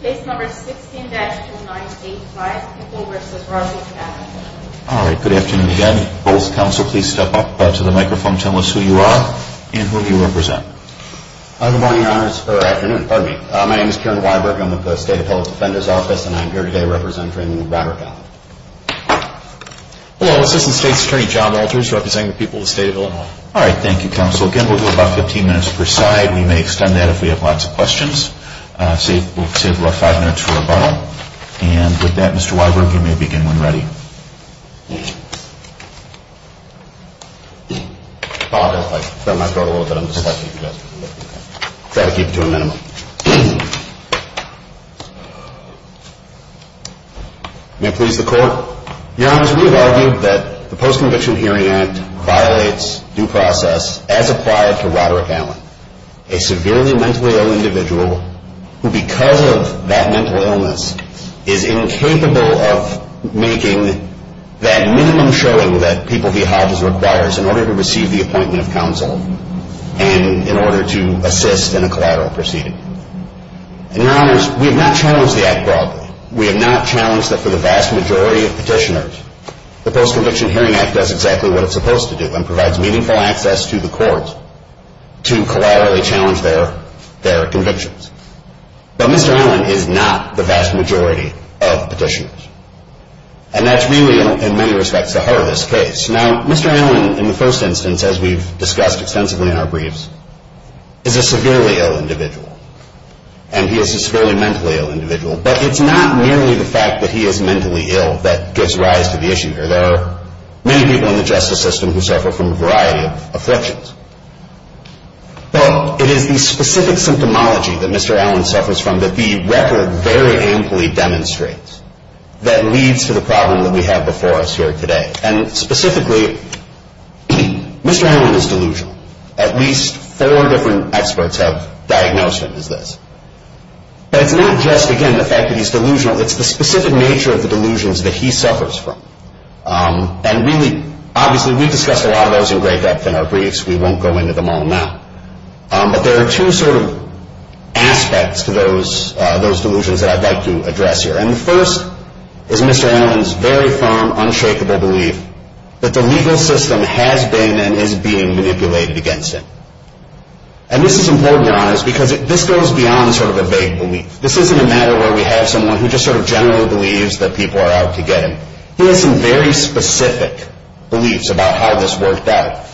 Case number 16-2985, Pickle v. Roderick Allen. All right, good afternoon again. Both counsel, please step up to the microphone. Tell us who you are and who you represent. Good morning, Your Honors, or afternoon, pardon me. My name is Karen Weiberg. I'm with the State Appellate Defender's Office, and I'm here today representing Robert Allen. Hello, Assistant State's Attorney John Alters, representing the people of the State of Illinois. All right, thank you, counsel. Again, we'll do about 15 minutes per side. We may extend that if we have lots of questions. We'll save the last five minutes for rebuttal. And with that, Mr. Weiberg, you may begin when ready. Apologize, I bent my throat a little bit. I'm just trying to keep it to a minimum. May it please the Court. Your Honors, we have argued that the Post-Conviction Hearing Act violates due process as acquired to Roderick Allen, a severely mentally ill individual who, because of that mental illness, is incapable of making that minimum showing that People v. Hodges requires in order to receive the appointment of counsel and in order to assist in a collateral proceeding. And, Your Honors, we have not challenged the act broadly. We have not challenged that for the vast majority of petitioners, the Post-Conviction Hearing Act does exactly what it's supposed to do and provides meaningful access to the Court to collaterally challenge their convictions. But Mr. Allen is not the vast majority of petitioners. And that's really, in many respects, the heart of this case. Now, Mr. Allen, in the first instance, as we've discussed extensively in our briefs, is a severely ill individual. And he is a severely mentally ill individual. But it's not merely the fact that he is mentally ill that gives rise to the issue here. There are many people in the justice system who suffer from a variety of afflictions. But it is the specific symptomology that Mr. Allen suffers from that the record very amply demonstrates that leads to the problem that we have before us here today. And specifically, Mr. Allen is delusional. At least four different experts have diagnosed him as this. But it's not just, again, the fact that he's delusional. It's the specific nature of the delusions that he suffers from. And really, obviously, we've discussed a lot of those in great depth in our briefs. We won't go into them all now. But there are two sort of aspects to those delusions that I'd like to address here. And the first is Mr. Allen's very firm, unshakable belief that the legal system has been and is being manipulated against him. And this is important, Your Honors, because this goes beyond sort of a vague belief. This isn't a matter where we have someone who just sort of generally believes that people are out to get him. He has some very specific beliefs about how this worked out,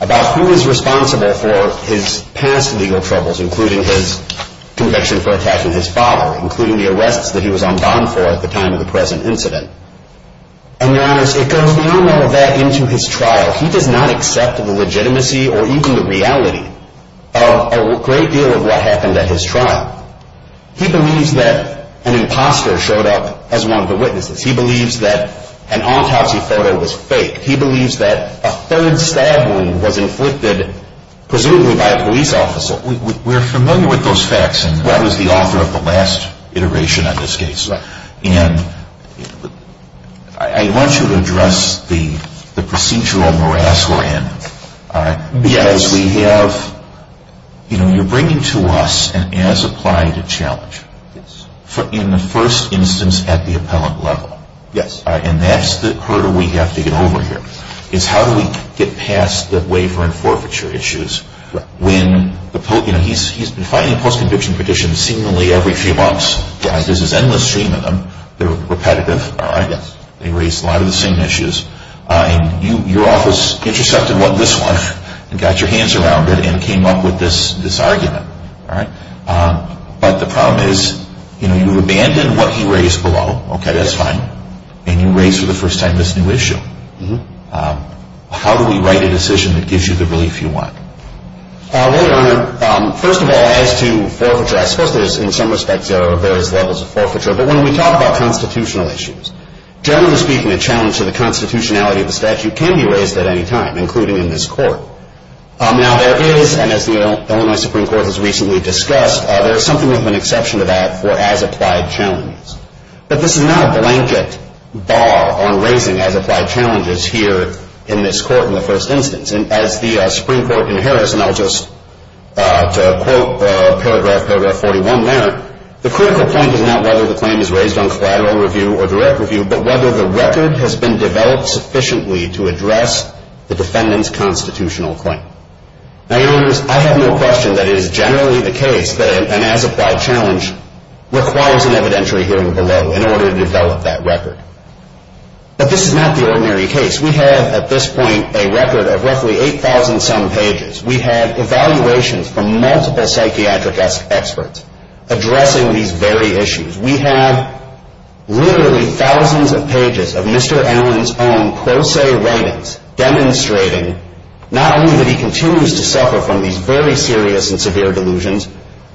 about who is responsible for his past legal troubles, including his conviction for attacking his father, including the arrests that he was on bond for at the time of the present incident. And, Your Honors, it goes beyond all of that into his trial. He does not accept the legitimacy or even the reality of a great deal of what happened at his trial. He believes that an imposter showed up as one of the witnesses. He believes that an autopsy photo was fake. He believes that a third stab wound was inflicted, presumably by a police officer. We're familiar with those facts, and I was the author of the last iteration on this case. And I want you to address the procedural morass we're in because we have, you know, you're bringing to us an as-applied challenge in the first instance at the appellant level. And that's the hurdle we have to get over here, is how do we get past the waiver and forfeiture issues when, you know, he's been filing a post-conviction petition seemingly every few months. This is endless stream of them. They're repetitive, all right? They raise a lot of the same issues. And your office intercepted what this was and got your hands around it and came up with this argument, all right? But the problem is, you know, you abandoned what he raised below. Okay, that's fine. And you raised for the first time this new issue. How do we write a decision that gives you the relief you want? Well, Your Honor, first of all, as to forfeiture, I suppose there is in some respects there are various levels of forfeiture. But when we talk about constitutional issues, generally speaking, a challenge to the constitutionality of the statute can be raised at any time, including in this court. Now, there is, and as the Illinois Supreme Court has recently discussed, there is something of an exception to that for as-applied challenges. But this is not a blanket bar on raising as-applied challenges here in this court in the first instance. And as the Supreme Court in Harris, and I'll just quote paragraph 41 there, the critical point is not whether the claim is raised on collateral review or direct review, but whether the record has been developed sufficiently to address the defendant's constitutional claim. Now, Your Honors, I have no question that it is generally the case that an as-applied challenge requires an evidentiary hearing below in order to develop that record. But this is not the ordinary case. We have at this point a record of roughly 8,000-some pages. We have evaluations from multiple psychiatric experts addressing these very issues. We have literally thousands of pages of Mr. Allen's own pro se writings demonstrating not only that he continues to suffer from these very serious and severe delusions,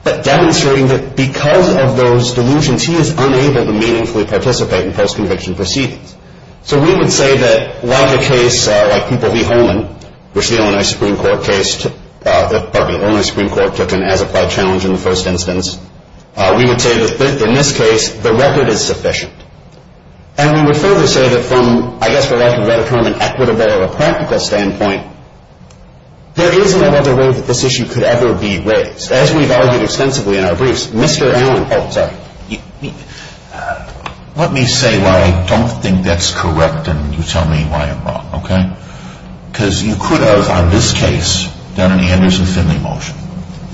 but demonstrating that because of those delusions, he is unable to meaningfully participate in post-conviction proceedings. So we would say that like a case like People v. Holman, which the Illinois Supreme Court case took an as-applied challenge in the first instance, we would say that in this case the record is sufficient. And we would further say that from, I guess, what I would call an equitable or a practical standpoint, there is no other way that this issue could ever be raised. As we've argued extensively in our briefs, Mr. Allen – oh, sorry. Let me say why I don't think that's correct and you tell me why I'm wrong. Okay? Because you could have, on this case, done an Anderson-Finley motion.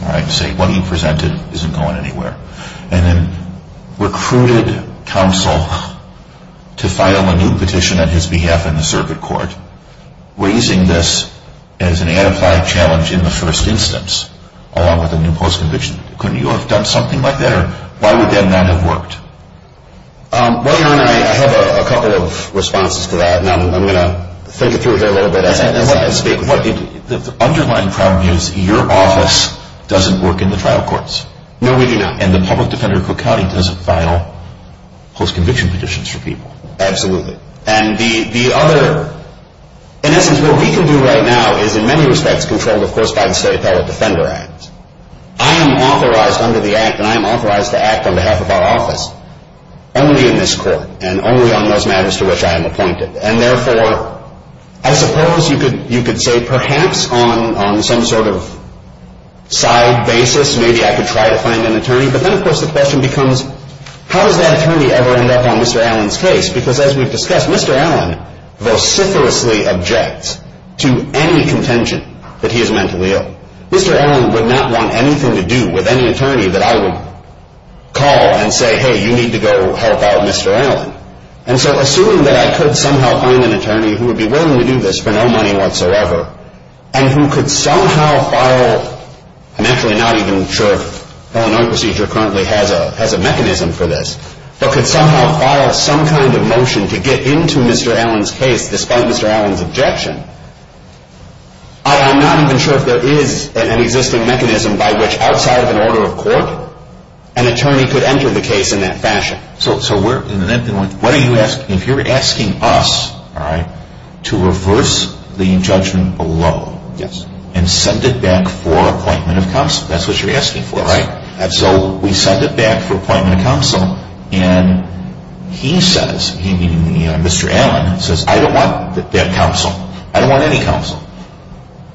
All right? Say what you presented isn't going anywhere. And then recruited counsel to file a new petition on his behalf in the circuit court, raising this as an as-applied challenge in the first instance, along with a new post-conviction. Couldn't you have done something like that? Or why would that not have worked? Well, Your Honor, I have a couple of responses to that. And I'm going to think it through here a little bit. The underlying problem is your office doesn't work in the trial courts. No, we do not. And the public defender, Cook County, doesn't file post-conviction petitions for people. Absolutely. And the other – in essence, what we can do right now is, in many respects, controlled, of course, by the State Appellate Defender Act. I am authorized under the act, and I am authorized to act on behalf of our office, only in this court and only on those matters to which I am appointed. And therefore, I suppose you could say perhaps on some sort of side basis, maybe I could try to find an attorney. But then, of course, the question becomes, how does that attorney ever end up on Mr. Allen's case? Because as we've discussed, Mr. Allen vociferously objects to any contention that he is mentally ill. Mr. Allen would not want anything to do with any attorney that I would call and say, hey, you need to go help out Mr. Allen. And so assuming that I could somehow find an attorney who would be willing to do this for no money whatsoever and who could somehow file – I'm actually not even sure Illinois Procedure currently has a mechanism for this – but could somehow file some kind of motion to get into Mr. Allen's case despite Mr. Allen's objection, I'm not even sure if there is an existing mechanism by which outside of an order of court, an attorney could enter the case in that fashion. So if you're asking us to reverse the judgment below and send it back for appointment of counsel, that's what you're asking for, right? And so we send it back for appointment of counsel, and he says, meaning Mr. Allen, says, I don't want that counsel. I don't want any counsel.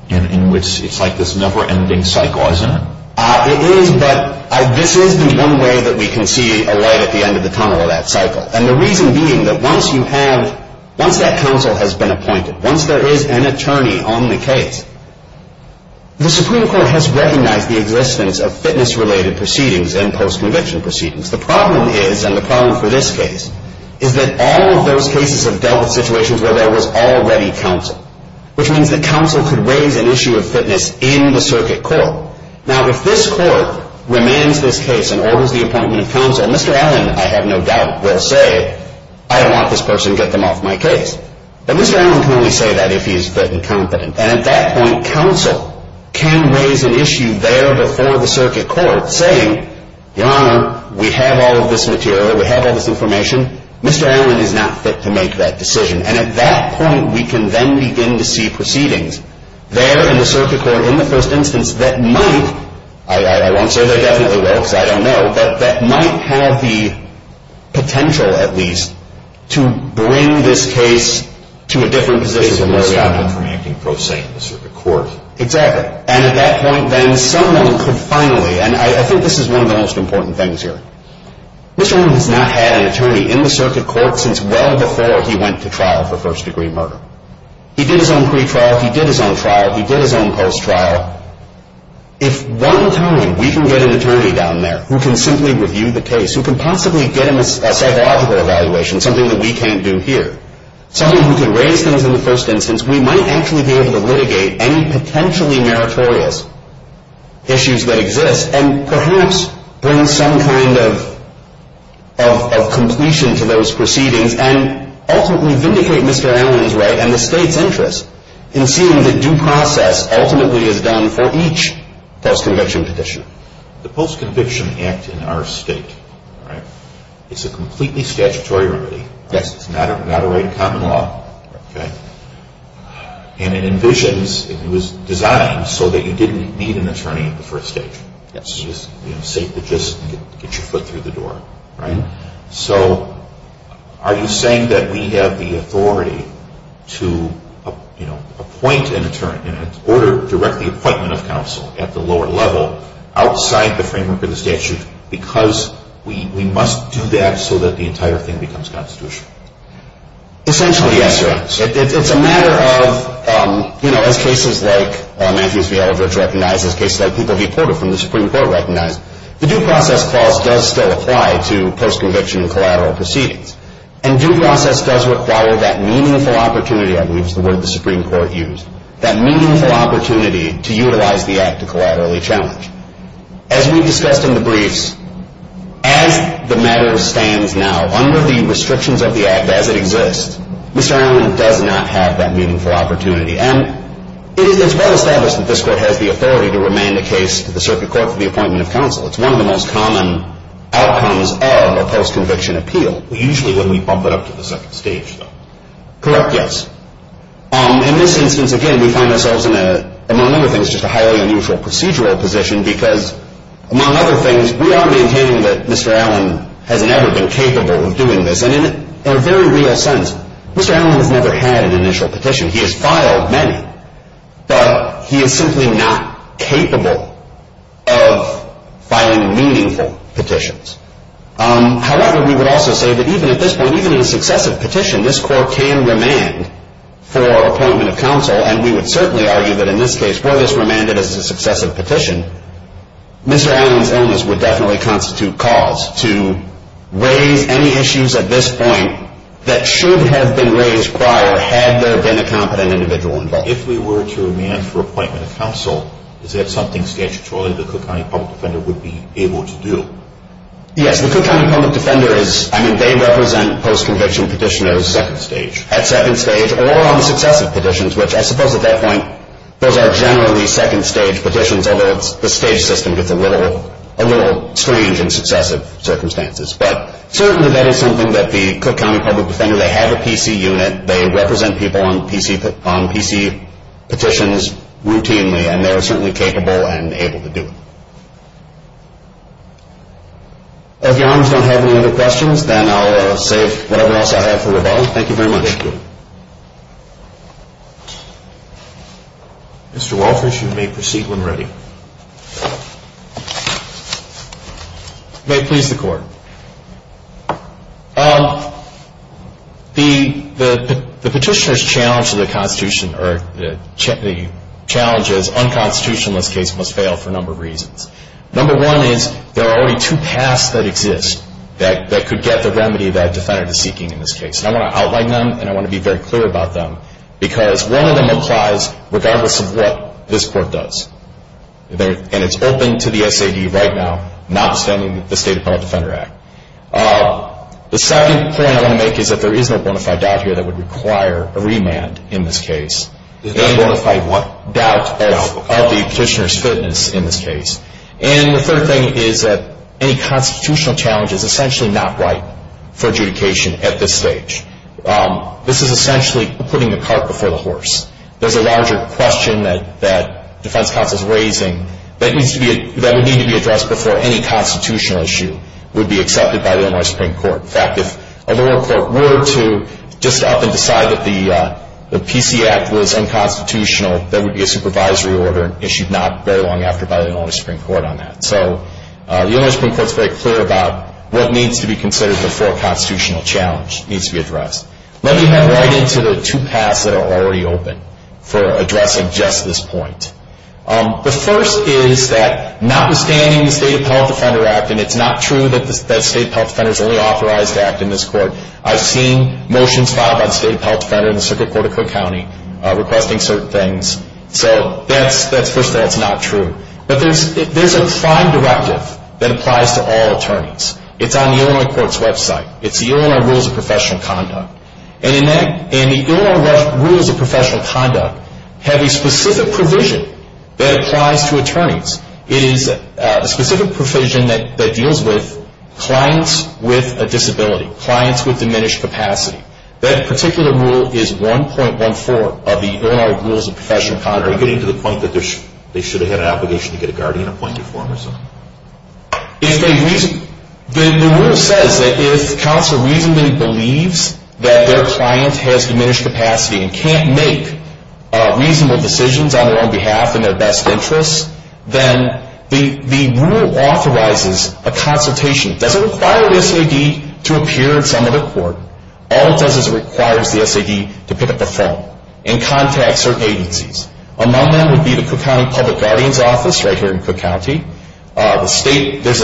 In which it's like this never-ending cycle, isn't it? It is, but this is the one way that we can see a light at the end of the tunnel of that cycle. And the reason being that once you have – once that counsel has been appointed, once there is an attorney on the case, the Supreme Court has recognized the existence of fitness-related proceedings and post-conviction proceedings. The problem is, and the problem for this case, is that all of those cases have dealt with situations where there was already counsel, which means that counsel could raise an issue of fitness in the circuit court. Now, if this court remains this case and orders the appointment of counsel, Mr. Allen, I have no doubt, will say, I don't want this person. Get them off my case. But Mr. Allen can only say that if he is fit and competent. And at that point, counsel can raise an issue there before the circuit court saying, Your Honor, we have all of this material. We have all this information. Mr. Allen is not fit to make that decision. And at that point, we can then begin to see proceedings there in the circuit court, in the first instance, that might – I won't say they definitely will because I don't know – that might have the potential, at least, to bring this case to a different position. Basically, I'm intermingling prosaic in the circuit court. Exactly. And at that point, then, someone could finally – and I think this is one of the most important things here – Mr. Allen has not had an attorney in the circuit court since well before he went to trial for first-degree murder. He did his own pretrial. He did his own trial. He did his own post-trial. If one time we can get an attorney down there who can simply review the case, who can possibly get him a psychological evaluation, something that we can't do here, someone who can raise things in the first instance, we might actually be able to litigate any potentially meritorious issues that exist and perhaps bring some kind of completion to those proceedings and ultimately vindicate Mr. Allen's right and the State's interest in seeing that due process ultimately is done for each post-conviction petition. The Post-Conviction Act in our State is a completely statutory remedy. Yes. It's not a right of common law. Right. And it envisions – it was designed so that you didn't need an attorney at the first stage. Yes. You could just get your foot through the door, right? So are you saying that we have the authority to appoint an attorney in order to direct the appointment of counsel at the lower level, outside the framework of the statute, because we must do that so that the entire thing becomes constitutional? Essentially, yes, sir. It's a matter of, you know, as cases like Matthews v. Aldridge recognize, as cases like People v. Porter from the Supreme Court recognize, the due process clause does still apply to post-conviction and collateral proceedings. And due process does require that meaningful opportunity, I believe is the word the Supreme Court used, that meaningful opportunity to utilize the act to collaterally challenge. As we discussed in the briefs, as the matter stands now, under the restrictions of the act as it exists, Mr. Allen does not have that meaningful opportunity. And it is well established that this Court has the authority to remand a case to the circuit court for the appointment of counsel. It's one of the most common outcomes of a post-conviction appeal. Usually when we bump it up to the second stage, though. Correct, yes. In this instance, again, we find ourselves in a, among other things, just a highly unusual procedural position because, among other things, we are maintaining that Mr. Allen has never been capable of doing this. And in a very real sense, Mr. Allen has never had an initial petition. He has filed many. But he is simply not capable of filing meaningful petitions. However, we would also say that even at this point, even in a successive petition, this Court can remand for appointment of counsel. And we would certainly argue that in this case, were this remanded as a successive petition, Mr. Allen's illness would definitely constitute cause to raise any issues at this point that should have been raised prior had there been a competent individual involved. If we were to remand for appointment of counsel, is that something statutorily the Cook County Public Defender would be able to do? Yes. The Cook County Public Defender is, I mean, they represent post-conviction petitioners at second stage or on successive petitions, which I suppose at that point those are generally second stage petitions, although the stage system gets a little strange in successive circumstances. But certainly that is something that the Cook County Public Defender, they have a PC unit, they represent people on PC petitions routinely, and they are certainly capable and able to do it. If Your Honors don't have any other questions, then I'll save whatever else I have for rebuttal. Thank you very much. Thank you. Mr. Walters, you may proceed when ready. Thank you. May it please the Court. The petitioner's challenge to the Constitution, or the challenge as unconstitutional in this case must fail for a number of reasons. Number one is there are only two paths that exist that could get the remedy that a defendant is seeking in this case. And I want to outline them, and I want to be very clear about them, because one of them applies regardless of what this Court does. And it's open to the SAD right now, notwithstanding the State Appellate Defender Act. The second point I want to make is that there is no bona fide doubt here that would require a remand in this case. There is no bona fide doubt of the petitioner's fitness in this case. And the third thing is that any constitutional challenge is essentially not right for adjudication at this stage. This is essentially putting the cart before the horse. There's a larger question that defense counsel is raising that would need to be addressed before any constitutional issue would be accepted by the Illinois Supreme Court. In fact, if a lower court were to just up and decide that the PC Act was unconstitutional, that would be a supervisory order issued not very long after by the Illinois Supreme Court on that. So the Illinois Supreme Court is very clear about what needs to be considered before a constitutional challenge needs to be addressed. Let me head right into the two paths that are already open for addressing just this point. The first is that, notwithstanding the State Appellate Defender Act, and it's not true that the State Appellate Defender is the only authorized to act in this Court, I've seen motions filed by the State Appellate Defender in the Circuit Court of Cook County requesting certain things. So that's, first of all, it's not true. But there's a prime directive that applies to all attorneys. It's on the Illinois Court's website. It's the Illinois Rules of Professional Conduct. And the Illinois Rules of Professional Conduct have a specific provision that applies to attorneys. It is a specific provision that deals with clients with a disability, clients with diminished capacity. That particular rule is 1.14 of the Illinois Rules of Professional Conduct. Are you getting to the point that they should have had an obligation to get a guardian appointed for them or something? The rule says that if counsel reasonably believes that their client has diminished capacity and can't make reasonable decisions on their own behalf in their best interest, then the rule authorizes a consultation. It doesn't require the SAD to appear in some other court. All it does is it requires the SAD to pick up the phone and contact certain agencies. Among them would be the Cook County Public Guardian's Office right here in Cook County. There's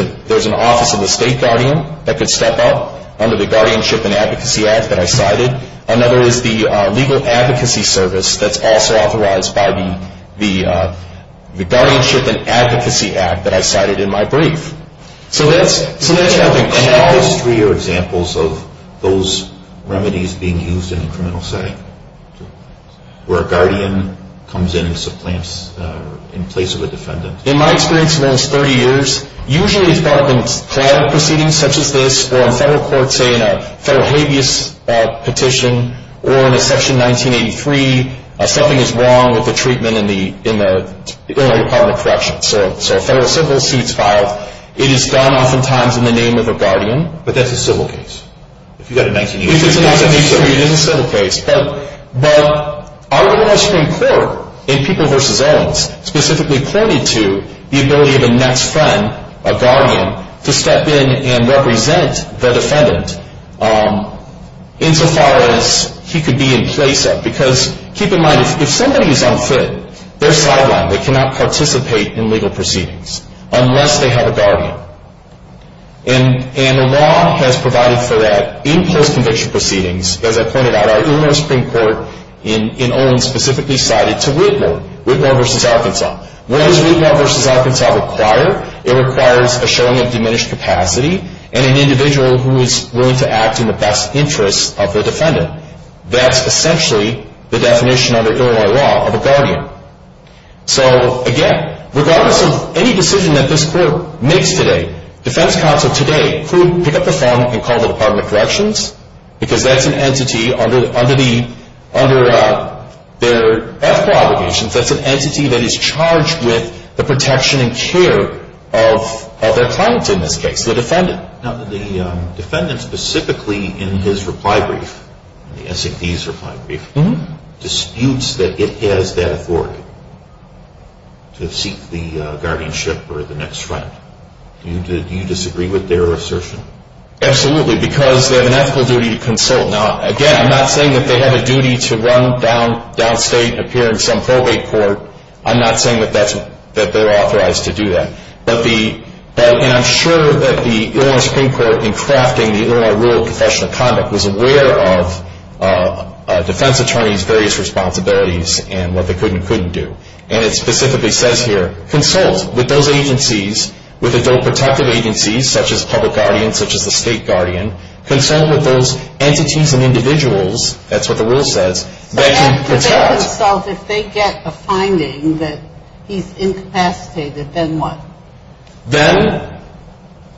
an office of the State Guardian that could step up under the Guardianship and Advocacy Act that I cited. Another is the Legal Advocacy Service that's also authorized by the Guardianship and Advocacy Act that I cited in my brief. So those three are examples of those remedies being used in a criminal setting where a guardian comes in and supplants in place of a defendant. In my experience in the last 30 years, usually it's brought up in trial proceedings such as this or in federal court, say, in a federal habeas petition or in a section 1983, something is wrong with the treatment in the Illinois Department of Corrections. So a federal civil suit is filed. It is done oftentimes in the name of a guardian. But that's a civil case. If it's 1983, it is a civil case. But our Illinois Supreme Court in People v. Owens specifically pointed to the ability of a next friend, a guardian, to step in and represent the defendant insofar as he could be in place of. Because keep in mind, if somebody is unfit, they're sidelined. They cannot participate in legal proceedings unless they have a guardian. And the law has provided for that in post-conviction proceedings, as I pointed out, our Illinois Supreme Court in Owens specifically cited to Widmore, Widmore v. Arkansas. What does Widmore v. Arkansas require? It requires a showing of diminished capacity and an individual who is willing to act in the best interest of the defendant. That's essentially the definition under Illinois law of a guardian. So, again, regardless of any decision that this Court makes today, defense counsel today could pick up the phone and call the Department of Corrections because that's an entity under their ethical obligations, that's an entity that is charged with the protection and care of their client in this case, the defendant. Now, the defendant specifically in his reply brief, the SAD's reply brief, disputes that it has that authority to seek the guardianship or the next friend. Do you disagree with their assertion? Absolutely, because they have an ethical duty to consult. Now, again, I'm not saying that they have a duty to run downstate and appear in some probate court. I'm not saying that they're authorized to do that. And I'm sure that the Illinois Supreme Court, in crafting the Illinois Rule of Professional Conduct, was aware of defense attorneys' various responsibilities and what they could and couldn't do. And it specifically says here, consult with those agencies, with adult protective agencies, such as public guardians, such as the state guardian. Consult with those entities and individuals, that's what the rule says, that can protect. If they consult, if they get a finding that he's incapacitated, then what? Then,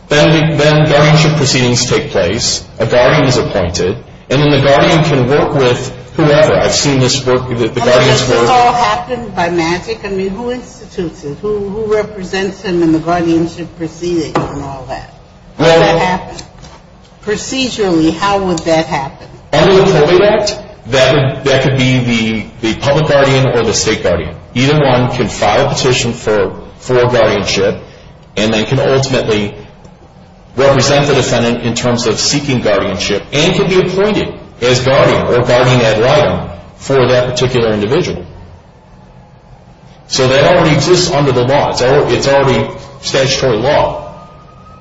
then guardianship proceedings take place, a guardian is appointed, and then the guardian can work with whoever. I've seen this work with the guardians. And does this all happen by magic? I mean, who institutes it? Who represents him in the guardianship proceedings and all that? How would that happen? Procedurally, how would that happen? Under the Probate Act, that could be the public guardian or the state guardian. Either one can file a petition for guardianship, and they can ultimately represent the defendant in terms of seeking guardianship and can be appointed as guardian or guardian ad litem for that particular individual. So that already exists under the law. It's already statutory law.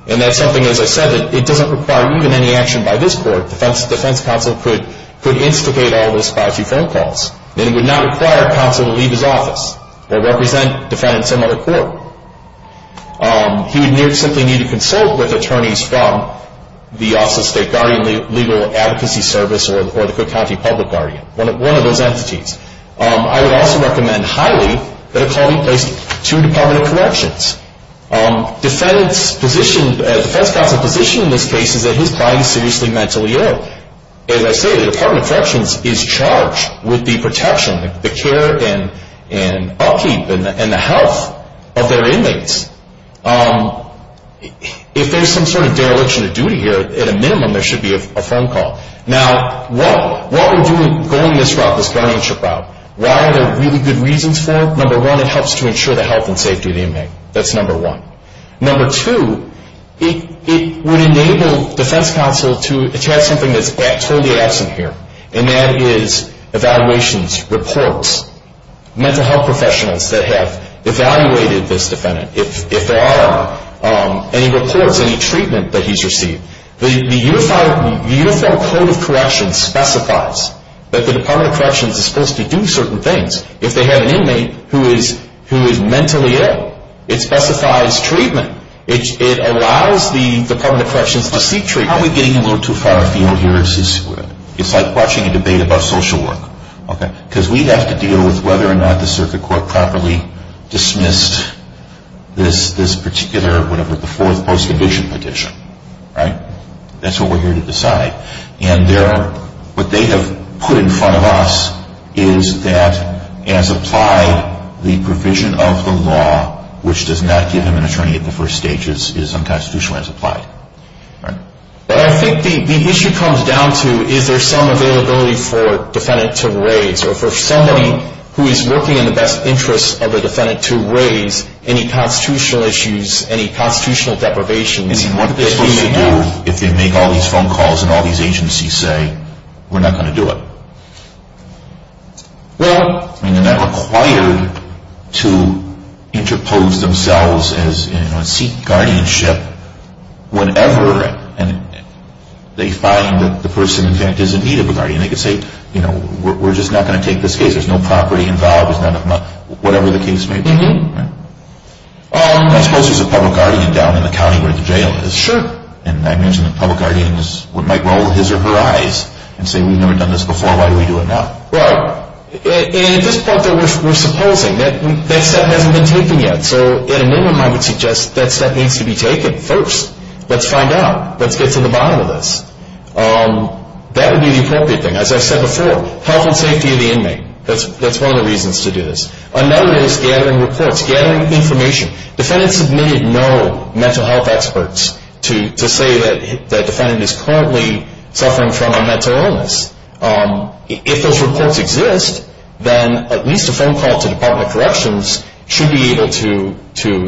And that's something, as I said, that it doesn't require even any action by this court. The defense counsel could instigate all this by a few phone calls. It would not require a counsel to leave his office or represent a defendant in some other court. He would simply need to consult with attorneys from the Office of State Guardian Legal Advocacy Service or the Cook County Public Guardian, one of those entities. I would also recommend highly that a client be placed to a Department of Corrections. Defense counsel's position in this case is that his client is seriously mentally ill. As I say, the Department of Corrections is charged with the protection, the care and upkeep and the health of their inmates. If there's some sort of dereliction of duty here, at a minimum there should be a phone call. Now, what we're doing going this route, this guardianship route, why are there really good reasons for it? Number one, it helps to ensure the health and safety of the inmate. That's number one. Number two, it would enable defense counsel to attach something that's totally absent here, and that is evaluations, reports. Mental health professionals that have evaluated this defendant, if there are any reports, any treatment that he's received. The Uniform Code of Corrections specifies that the Department of Corrections is supposed to do certain things if they have an inmate who is mentally ill. It specifies treatment. It allows the Department of Corrections to seek treatment. How are we getting a little too far afield here? It's like watching a debate about social work. Because we'd have to deal with whether or not the circuit court properly dismissed this particular, whatever, the Fourth Post Division Petition, right? That's what we're here to decide. What they have put in front of us is that, as applied, the provision of the law, which does not give him an attorney at the first stage, is unconstitutional as applied. But I think the issue comes down to, is there some availability for a defendant to raise, or for somebody who is working in the best interest of the defendant to raise, any constitutional issues, any constitutional deprivations? I mean, what are they supposed to do if they make all these phone calls and all these agencies say, we're not going to do it? Well, I mean, they're not required to interpose themselves as, you know, seek guardianship whenever they find that the person, in fact, is in need of a guardian. They could say, you know, we're just not going to take this case. There's no property involved. Whatever the case may be. I suppose there's a public guardian down in the county where the jail is. Sure. And I imagine the public guardian might roll his or her eyes and say, we've never done this before, why do we do it now? Right. And at this point, we're supposing. That step hasn't been taken yet. So at a minimum, I would suggest that step needs to be taken first. Let's find out. Let's get to the bottom of this. That would be the appropriate thing. As I said before, health and safety of the inmate. That's one of the reasons to do this. Another is gathering reports, gathering information. Defendants have made it known, mental health experts, to say that the defendant is currently suffering from a mental illness. If those reports exist, then at least a phone call to Department of Corrections should be able to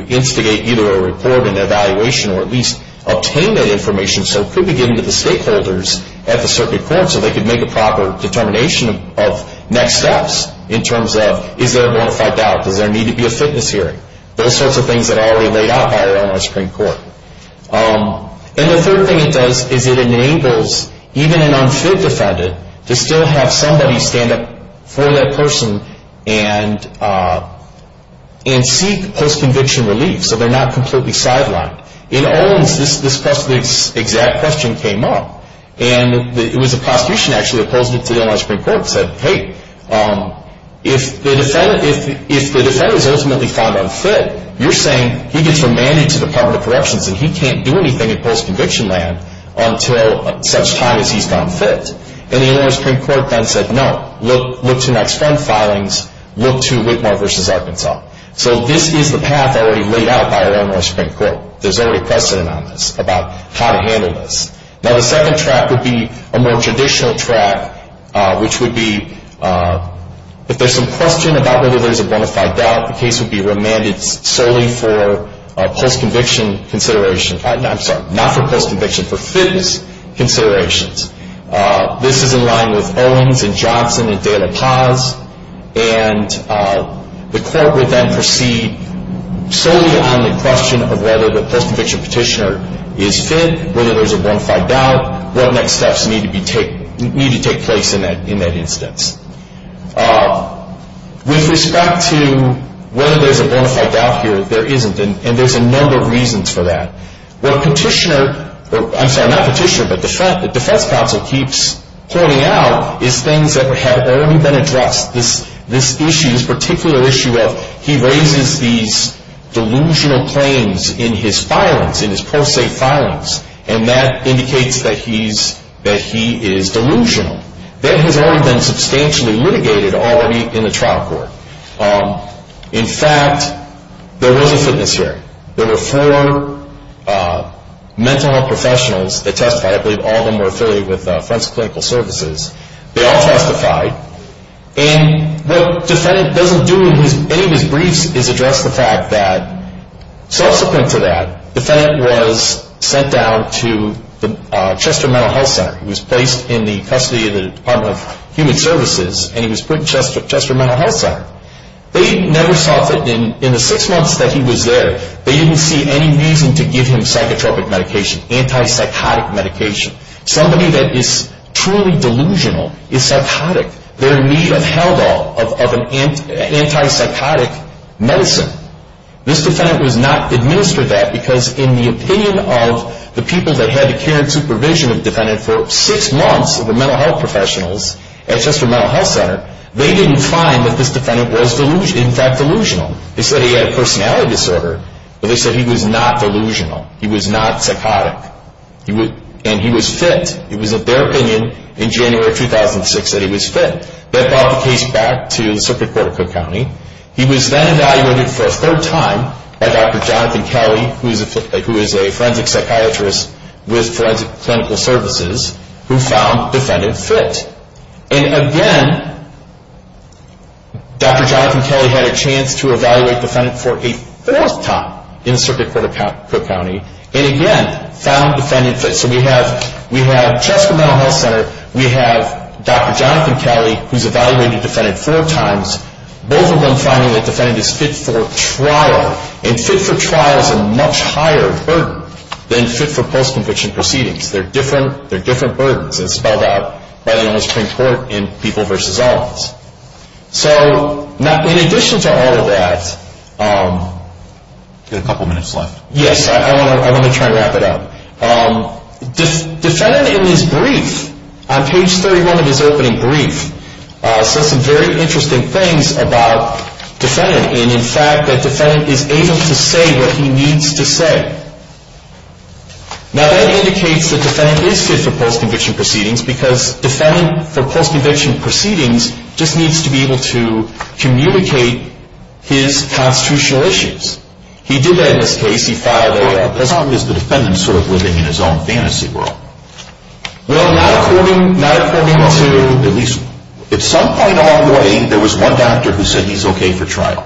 instigate either a report and evaluation or at least obtain that information so it could be given to the stakeholders at the circuit court so they could make a proper determination of next steps in terms of is there a bona fide doubt? Does there need to be a fitness hearing? Those sorts of things that are already laid out by our Illinois Supreme Court. And the third thing it does is it enables even an unfit defendant to still have somebody stand up for that person and seek post-conviction relief so they're not completely sidelined. In Owens, this exact question came up, and it was a prosecution actually that posed it to the Illinois Supreme Court and said, hey, if the defendant is ultimately found unfit, you're saying he gets remanded to the Department of Corrections and he can't do anything in post-conviction land until such time as he's found fit. And the Illinois Supreme Court then said, no, look to next front filings. Look to Whitmore v. Arkansas. So this is the path already laid out by our Illinois Supreme Court. There's already precedent on this about how to handle this. Now, the second track would be a more traditional track, which would be if there's some question about whether there's a bona fide doubt, the case would be remanded solely for post-conviction considerations. I'm sorry, not for post-conviction, for fitness considerations. This is in line with Owens and Johnson and Dale Paz, and the court would then proceed solely on the question of whether the post-conviction petitioner is fit, whether there's a bona fide doubt, what next steps need to take place in that instance. With respect to whether there's a bona fide doubt here, there isn't, and there's a number of reasons for that. What petitioner, I'm sorry, not petitioner, but defense counsel keeps pointing out is things that have already been addressed. This issue, this particular issue of he raises these delusional claims in his filings, in his pro se filings, and that indicates that he is delusional. That has already been substantially litigated already in the trial court. In fact, there was a fitness hearing. There were four mental health professionals that testified. I believe all of them were affiliated with Friends Clinical Services. They all testified, and what the defendant doesn't do in any of his briefs is address the fact that subsequent to that, the defendant was sent down to the Chester Mental Health Center. He was placed in the custody of the Department of Human Services, and he was put in Chester Mental Health Center. They never saw fit. In the six months that he was there, they didn't see any reason to give him psychotropic medication, antipsychotic medication. Somebody that is truly delusional is psychotic. They're in need of help of an antipsychotic medicine. This defendant was not administered that because in the opinion of the people that had the care and supervision of the defendant for six months of the mental health professionals at Chester Mental Health Center, they didn't find that this defendant was, in fact, delusional. They said he had a personality disorder, but they said he was not delusional. He was not psychotic, and he was fit. It was their opinion in January of 2006 that he was fit. That brought the case back to the Circuit Court of Cook County. He was then evaluated for a third time by Dr. Jonathan Kelly, who is a forensic psychiatrist with Forensic Clinical Services, who found the defendant fit. And again, Dr. Jonathan Kelly had a chance to evaluate the defendant for a fourth time in the Circuit Court of Cook County, and again found the defendant fit. So we have at Chester Mental Health Center, we have Dr. Jonathan Kelly, who's evaluated the defendant four times, both of them finding that the defendant is fit for trial. And fit for trial is a much higher burden than fit for post-conviction proceedings. They're different burdens as spelled out by the U.S. Supreme Court in People v. Alls. So in addition to all of that, I've got a couple minutes left. Yes, I want to try and wrap it up. The defendant in his brief, on page 31 of his opening brief, says some very interesting things about the defendant, and in fact that the defendant is able to say what he needs to say. Now that indicates that the defendant is fit for post-conviction proceedings because the defendant for post-conviction proceedings just needs to be able to communicate his constitutional issues. He did that in this case. He filed a law. As long as the defendant is sort of living in his own fantasy world. Well, not according to, at least at some point along the way, there was one doctor who said he's okay for trial.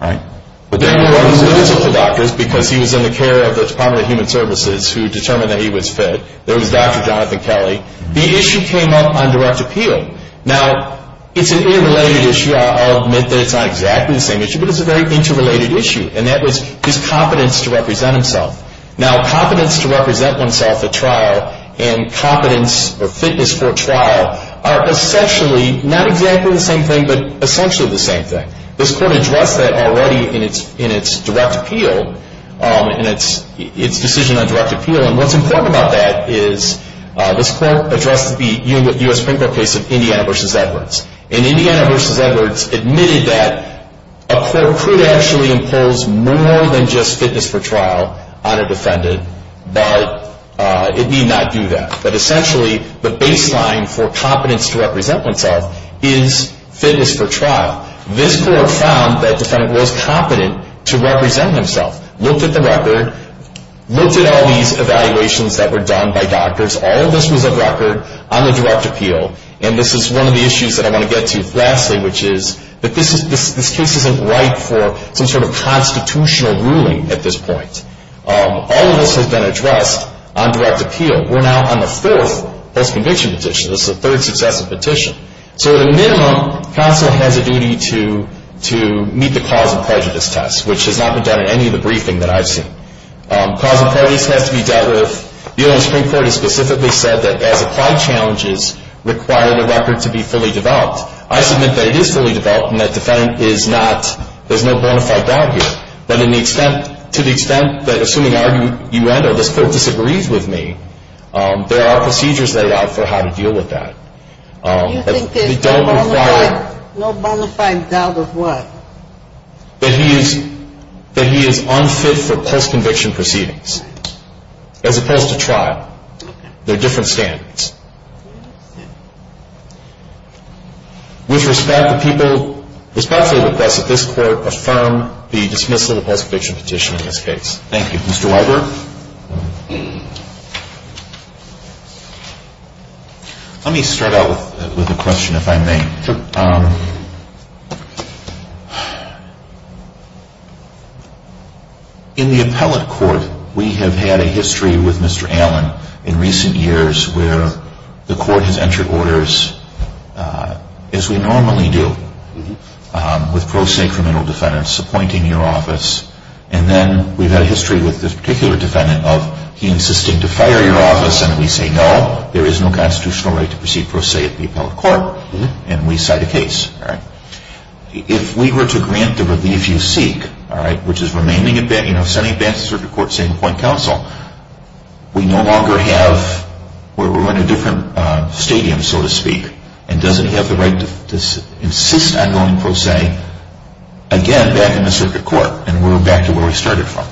Right? But there were other medical doctors because he was in the care of the Department of Human Services who determined that he was fit. There was Dr. Jonathan Kelly. The issue came up on direct appeal. Now, it's an interrelated issue. I'll admit that it's not exactly the same issue, but it's a very interrelated issue, and that was his competence to represent himself. Now, competence to represent oneself at trial and competence or fitness for trial are essentially, not exactly the same thing, but essentially the same thing. This court addressed that already in its direct appeal, in its decision on direct appeal, and what's important about that is this court addressed the U.S. Supreme Court case of Indiana v. Edwards. And Indiana v. Edwards admitted that a court could actually impose more than just fitness for trial on a defendant, but it need not do that. But essentially, the baseline for competence to represent oneself is fitness for trial. This court found that defendant was competent to represent himself, looked at the record, looked at all these evaluations that were done by doctors. All of this was a record on the direct appeal. And this is one of the issues that I want to get to lastly, which is that this case isn't ripe for some sort of constitutional ruling at this point. All of this has been addressed on direct appeal. We're now on the fourth post-conviction petition. This is the third successive petition. So at a minimum, counsel has a duty to meet the cause of prejudice test, which has not been done in any of the briefing that I've seen. Cause of prejudice has to be dealt with. The U.S. Supreme Court has specifically said that, as applied challenges, require the record to be fully developed. I submit that it is fully developed and that defendant is not. There's no bona fide doubt here. But to the extent that, assuming you end or this court disagrees with me, there are procedures laid out for how to deal with that. You think there's no bona fide doubt of what? That he is unfit for post-conviction proceedings. As opposed to trial. There are different standards. With respect to people, respectfully request that this court affirm the dismissal of the post-conviction petition in this case. Thank you. Mr. Weiber? Let me start out with a question, if I may. Sure. In the appellate court, we have had a history with Mr. Allen in recent years where the court has entered orders, as we normally do, with pro se criminal defendants appointing your office. And then we've had a history with this particular defendant of he insisting to fire your office and we say no, there is no constitutional right to proceed pro se at the appellate court. And we cite a case. If we were to grant the relief you seek, which is sending it back to the circuit court, saying point counsel, we no longer have, we're in a different stadium, so to speak, and doesn't he have the right to insist on going pro se again back in the circuit court? And we're back to where we started from.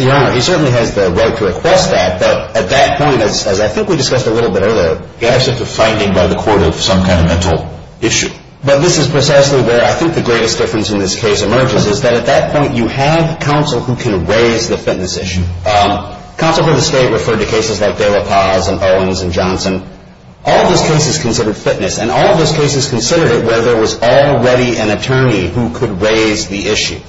Your Honor, he certainly has the right to request that, but at that point, as I think we discussed a little bit earlier, you have such a finding by the court of some kind of mental issue. But this is precisely where I think the greatest difference in this case emerges, is that at that point you have counsel who can raise the fitness issue. Counsel for the state referred to cases like De La Paz and Owens and Johnson. All of those cases considered fitness. And all of those cases considered it where there was already an attorney who could raise the issue.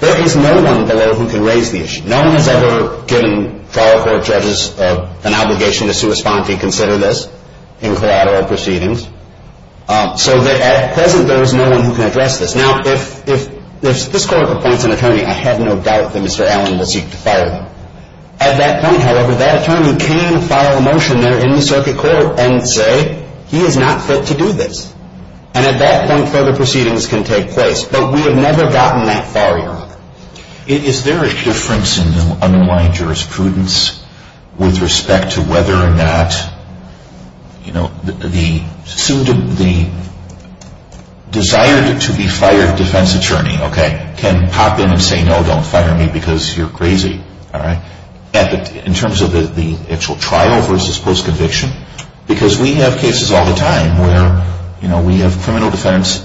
There is no one below who can raise the issue. No one has ever given trial court judges an obligation to sue or respond to or consider this in collateral proceedings. So at present there is no one who can address this. Now, if this court appoints an attorney, I have no doubt that Mr. Allen will seek to fire him. At that point, however, that attorney can file a motion there in the circuit court and say he is not fit to do this. And at that point further proceedings can take place. But we have never gotten that far, Your Honor. Is there a difference in the underlying jurisprudence with respect to whether or not, you know, the desire to be fired defense attorney can pop in and say no, don't fire me because you're crazy. In terms of the actual trial versus post-conviction. Because we have cases all the time where, you know, we have criminal defendants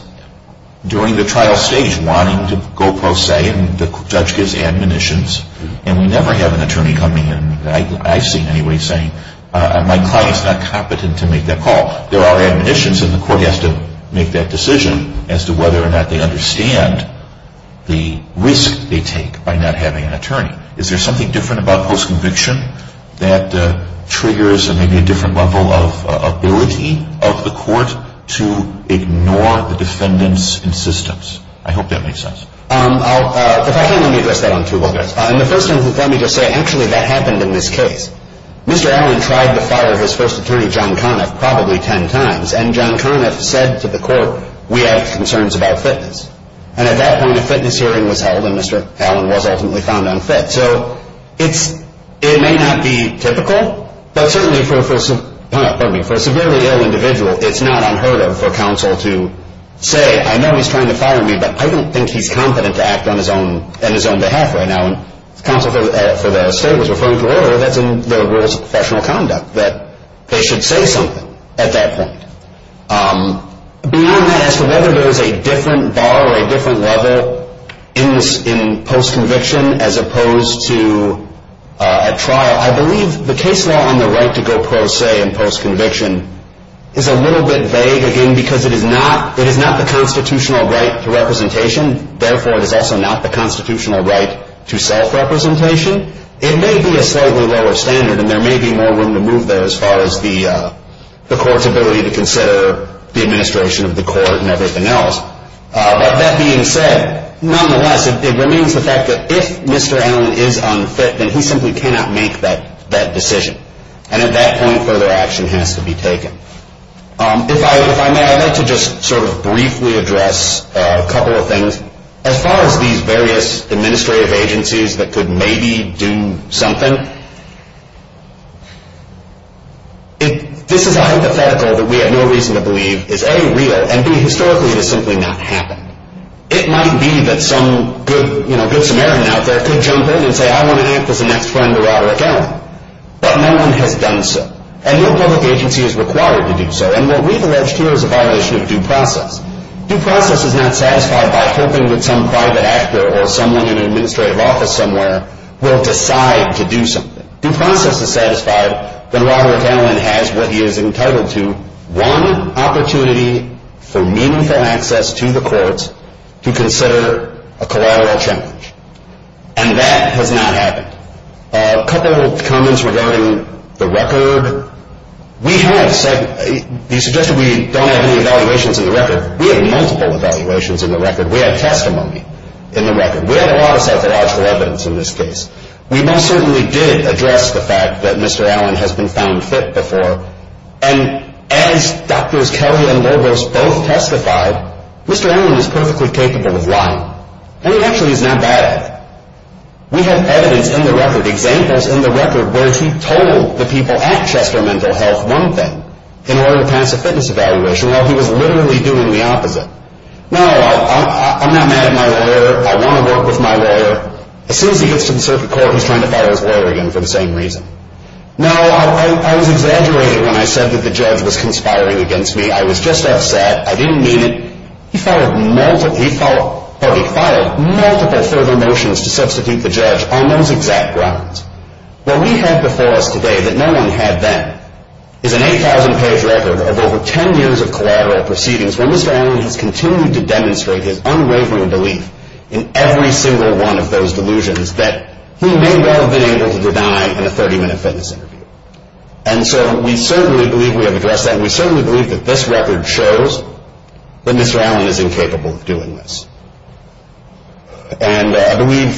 during the trial stage wanting to go pro se and the judge gives admonitions and we never have an attorney coming in that I've seen anyway saying my client is not competent to make that call. There are admonitions and the court has to make that decision as to whether or not they understand the risk they take by not having an attorney. Is there something different about post-conviction that triggers maybe a different level of ability of the court to ignore the defendants' insistence? I hope that makes sense. If I can, let me address that on two levels. The first one is let me just say actually that happened in this case. Mr. Allen tried to fire his first attorney, John Conniff, probably ten times. And John Conniff said to the court, we have concerns about fitness. And at that point, a fitness hearing was held and Mr. Allen was ultimately found unfit. So it may not be typical, but certainly for a severely ill individual, it's not unheard of for counsel to say, I know he's trying to fire me, but I don't think he's competent to act on his own behalf right now. And counsel for the state was referring to earlier that's in the rules of professional conduct, that they should say something at that point. Beyond that, as to whether there is a different bar or a different level in post-conviction as opposed to a trial, I believe the case law on the right to go pro se in post-conviction is a little bit vague, again, because it is not the constitutional right to representation. Therefore, it is also not the constitutional right to self-representation. And it may be a slightly lower standard, and there may be more room to move there as far as the court's ability to consider the administration of the court and everything else. But that being said, nonetheless, it remains the fact that if Mr. Allen is unfit, then he simply cannot make that decision. And at that point, further action has to be taken. If I may, I'd like to just sort of briefly address a couple of things. One, as far as these various administrative agencies that could maybe do something, this is a hypothetical that we have no reason to believe is a, real, and b, historically it has simply not happened. It might be that some good Samaritan out there could jump in and say, I want to act as the next friend of Robert Allen, but no one has done so. And no public agency is required to do so. And what we've alleged here is a violation of due process. Due process is not satisfied by hoping that some private actor or someone in an administrative office somewhere will decide to do something. If due process is satisfied, then Robert Allen has what he is entitled to, one opportunity for meaningful access to the courts to consider a collateral challenge. And that has not happened. A couple of comments regarding the record. We have, you suggested we don't have any evaluations in the record. We have multiple evaluations in the record. We have testimony in the record. We have a lot of psychological evidence in this case. We most certainly did address the fact that Mr. Allen has been found fit before. And as Drs. Kelly and Lobos both testified, Mr. Allen is perfectly capable of lying. And he actually is not bad at it. We have evidence in the record, examples in the record, where he told the people at Chester Mental Health one thing in order to pass a fitness evaluation while he was literally doing the opposite. No, I'm not mad at my lawyer. I want to work with my lawyer. As soon as he gets to the circuit court, he's trying to fire his lawyer again for the same reason. No, I was exaggerating when I said that the judge was conspiring against me. I was just upset. I didn't mean it. He filed multiple further motions to substitute the judge on those exact grounds. What we have before us today that no one had then is an 8,000-page record of over 10 years of collateral proceedings where Mr. Allen has continued to demonstrate his unwavering belief in every single one of those delusions that he may well have been able to deny in a 30-minute fitness interview. And so we certainly believe we have addressed that, and we certainly believe that this record shows that Mr. Allen is incapable of doing this. And I believe,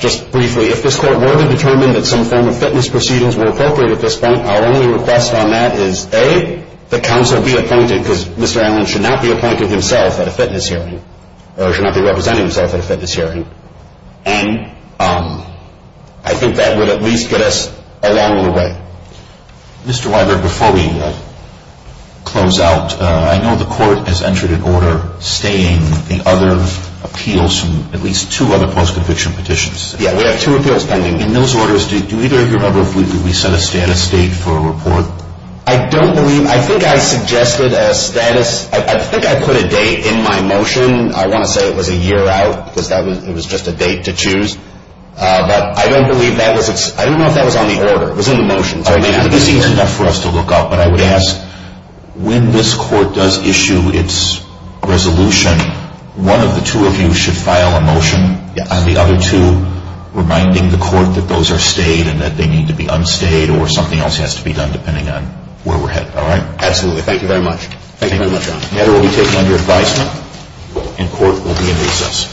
just briefly, if this court were to determine that some form of fitness proceedings were appropriate at this point, our only request on that is, A, that counsel be appointed because Mr. Allen should not be appointed himself at a fitness hearing or should not be representing himself at a fitness hearing, and I think that would at least get us along the way. Mr. Weiberg, before we close out, I know the court has entered an order staying the other appeals from at least two other post-conviction petitions. Yeah, we have two appeals pending. In those orders, do either of you remember if we set a status date for a report? I don't believe – I think I suggested a status – I think I put a date in my motion. I want to say it was a year out because that was – it was just a date to choose. But I don't believe that was – I don't know if that was on the order. It was in the motion. This seems enough for us to look up, but I would ask, when this court does issue its resolution, one of the two of you should file a motion on the other two reminding the court that those are stayed and that they need to be unstayed or something else has to be done depending on where we're headed. All right? Absolutely. Thank you very much. Thank you very much, John. The matter will be taken under advisement and court will be in recess.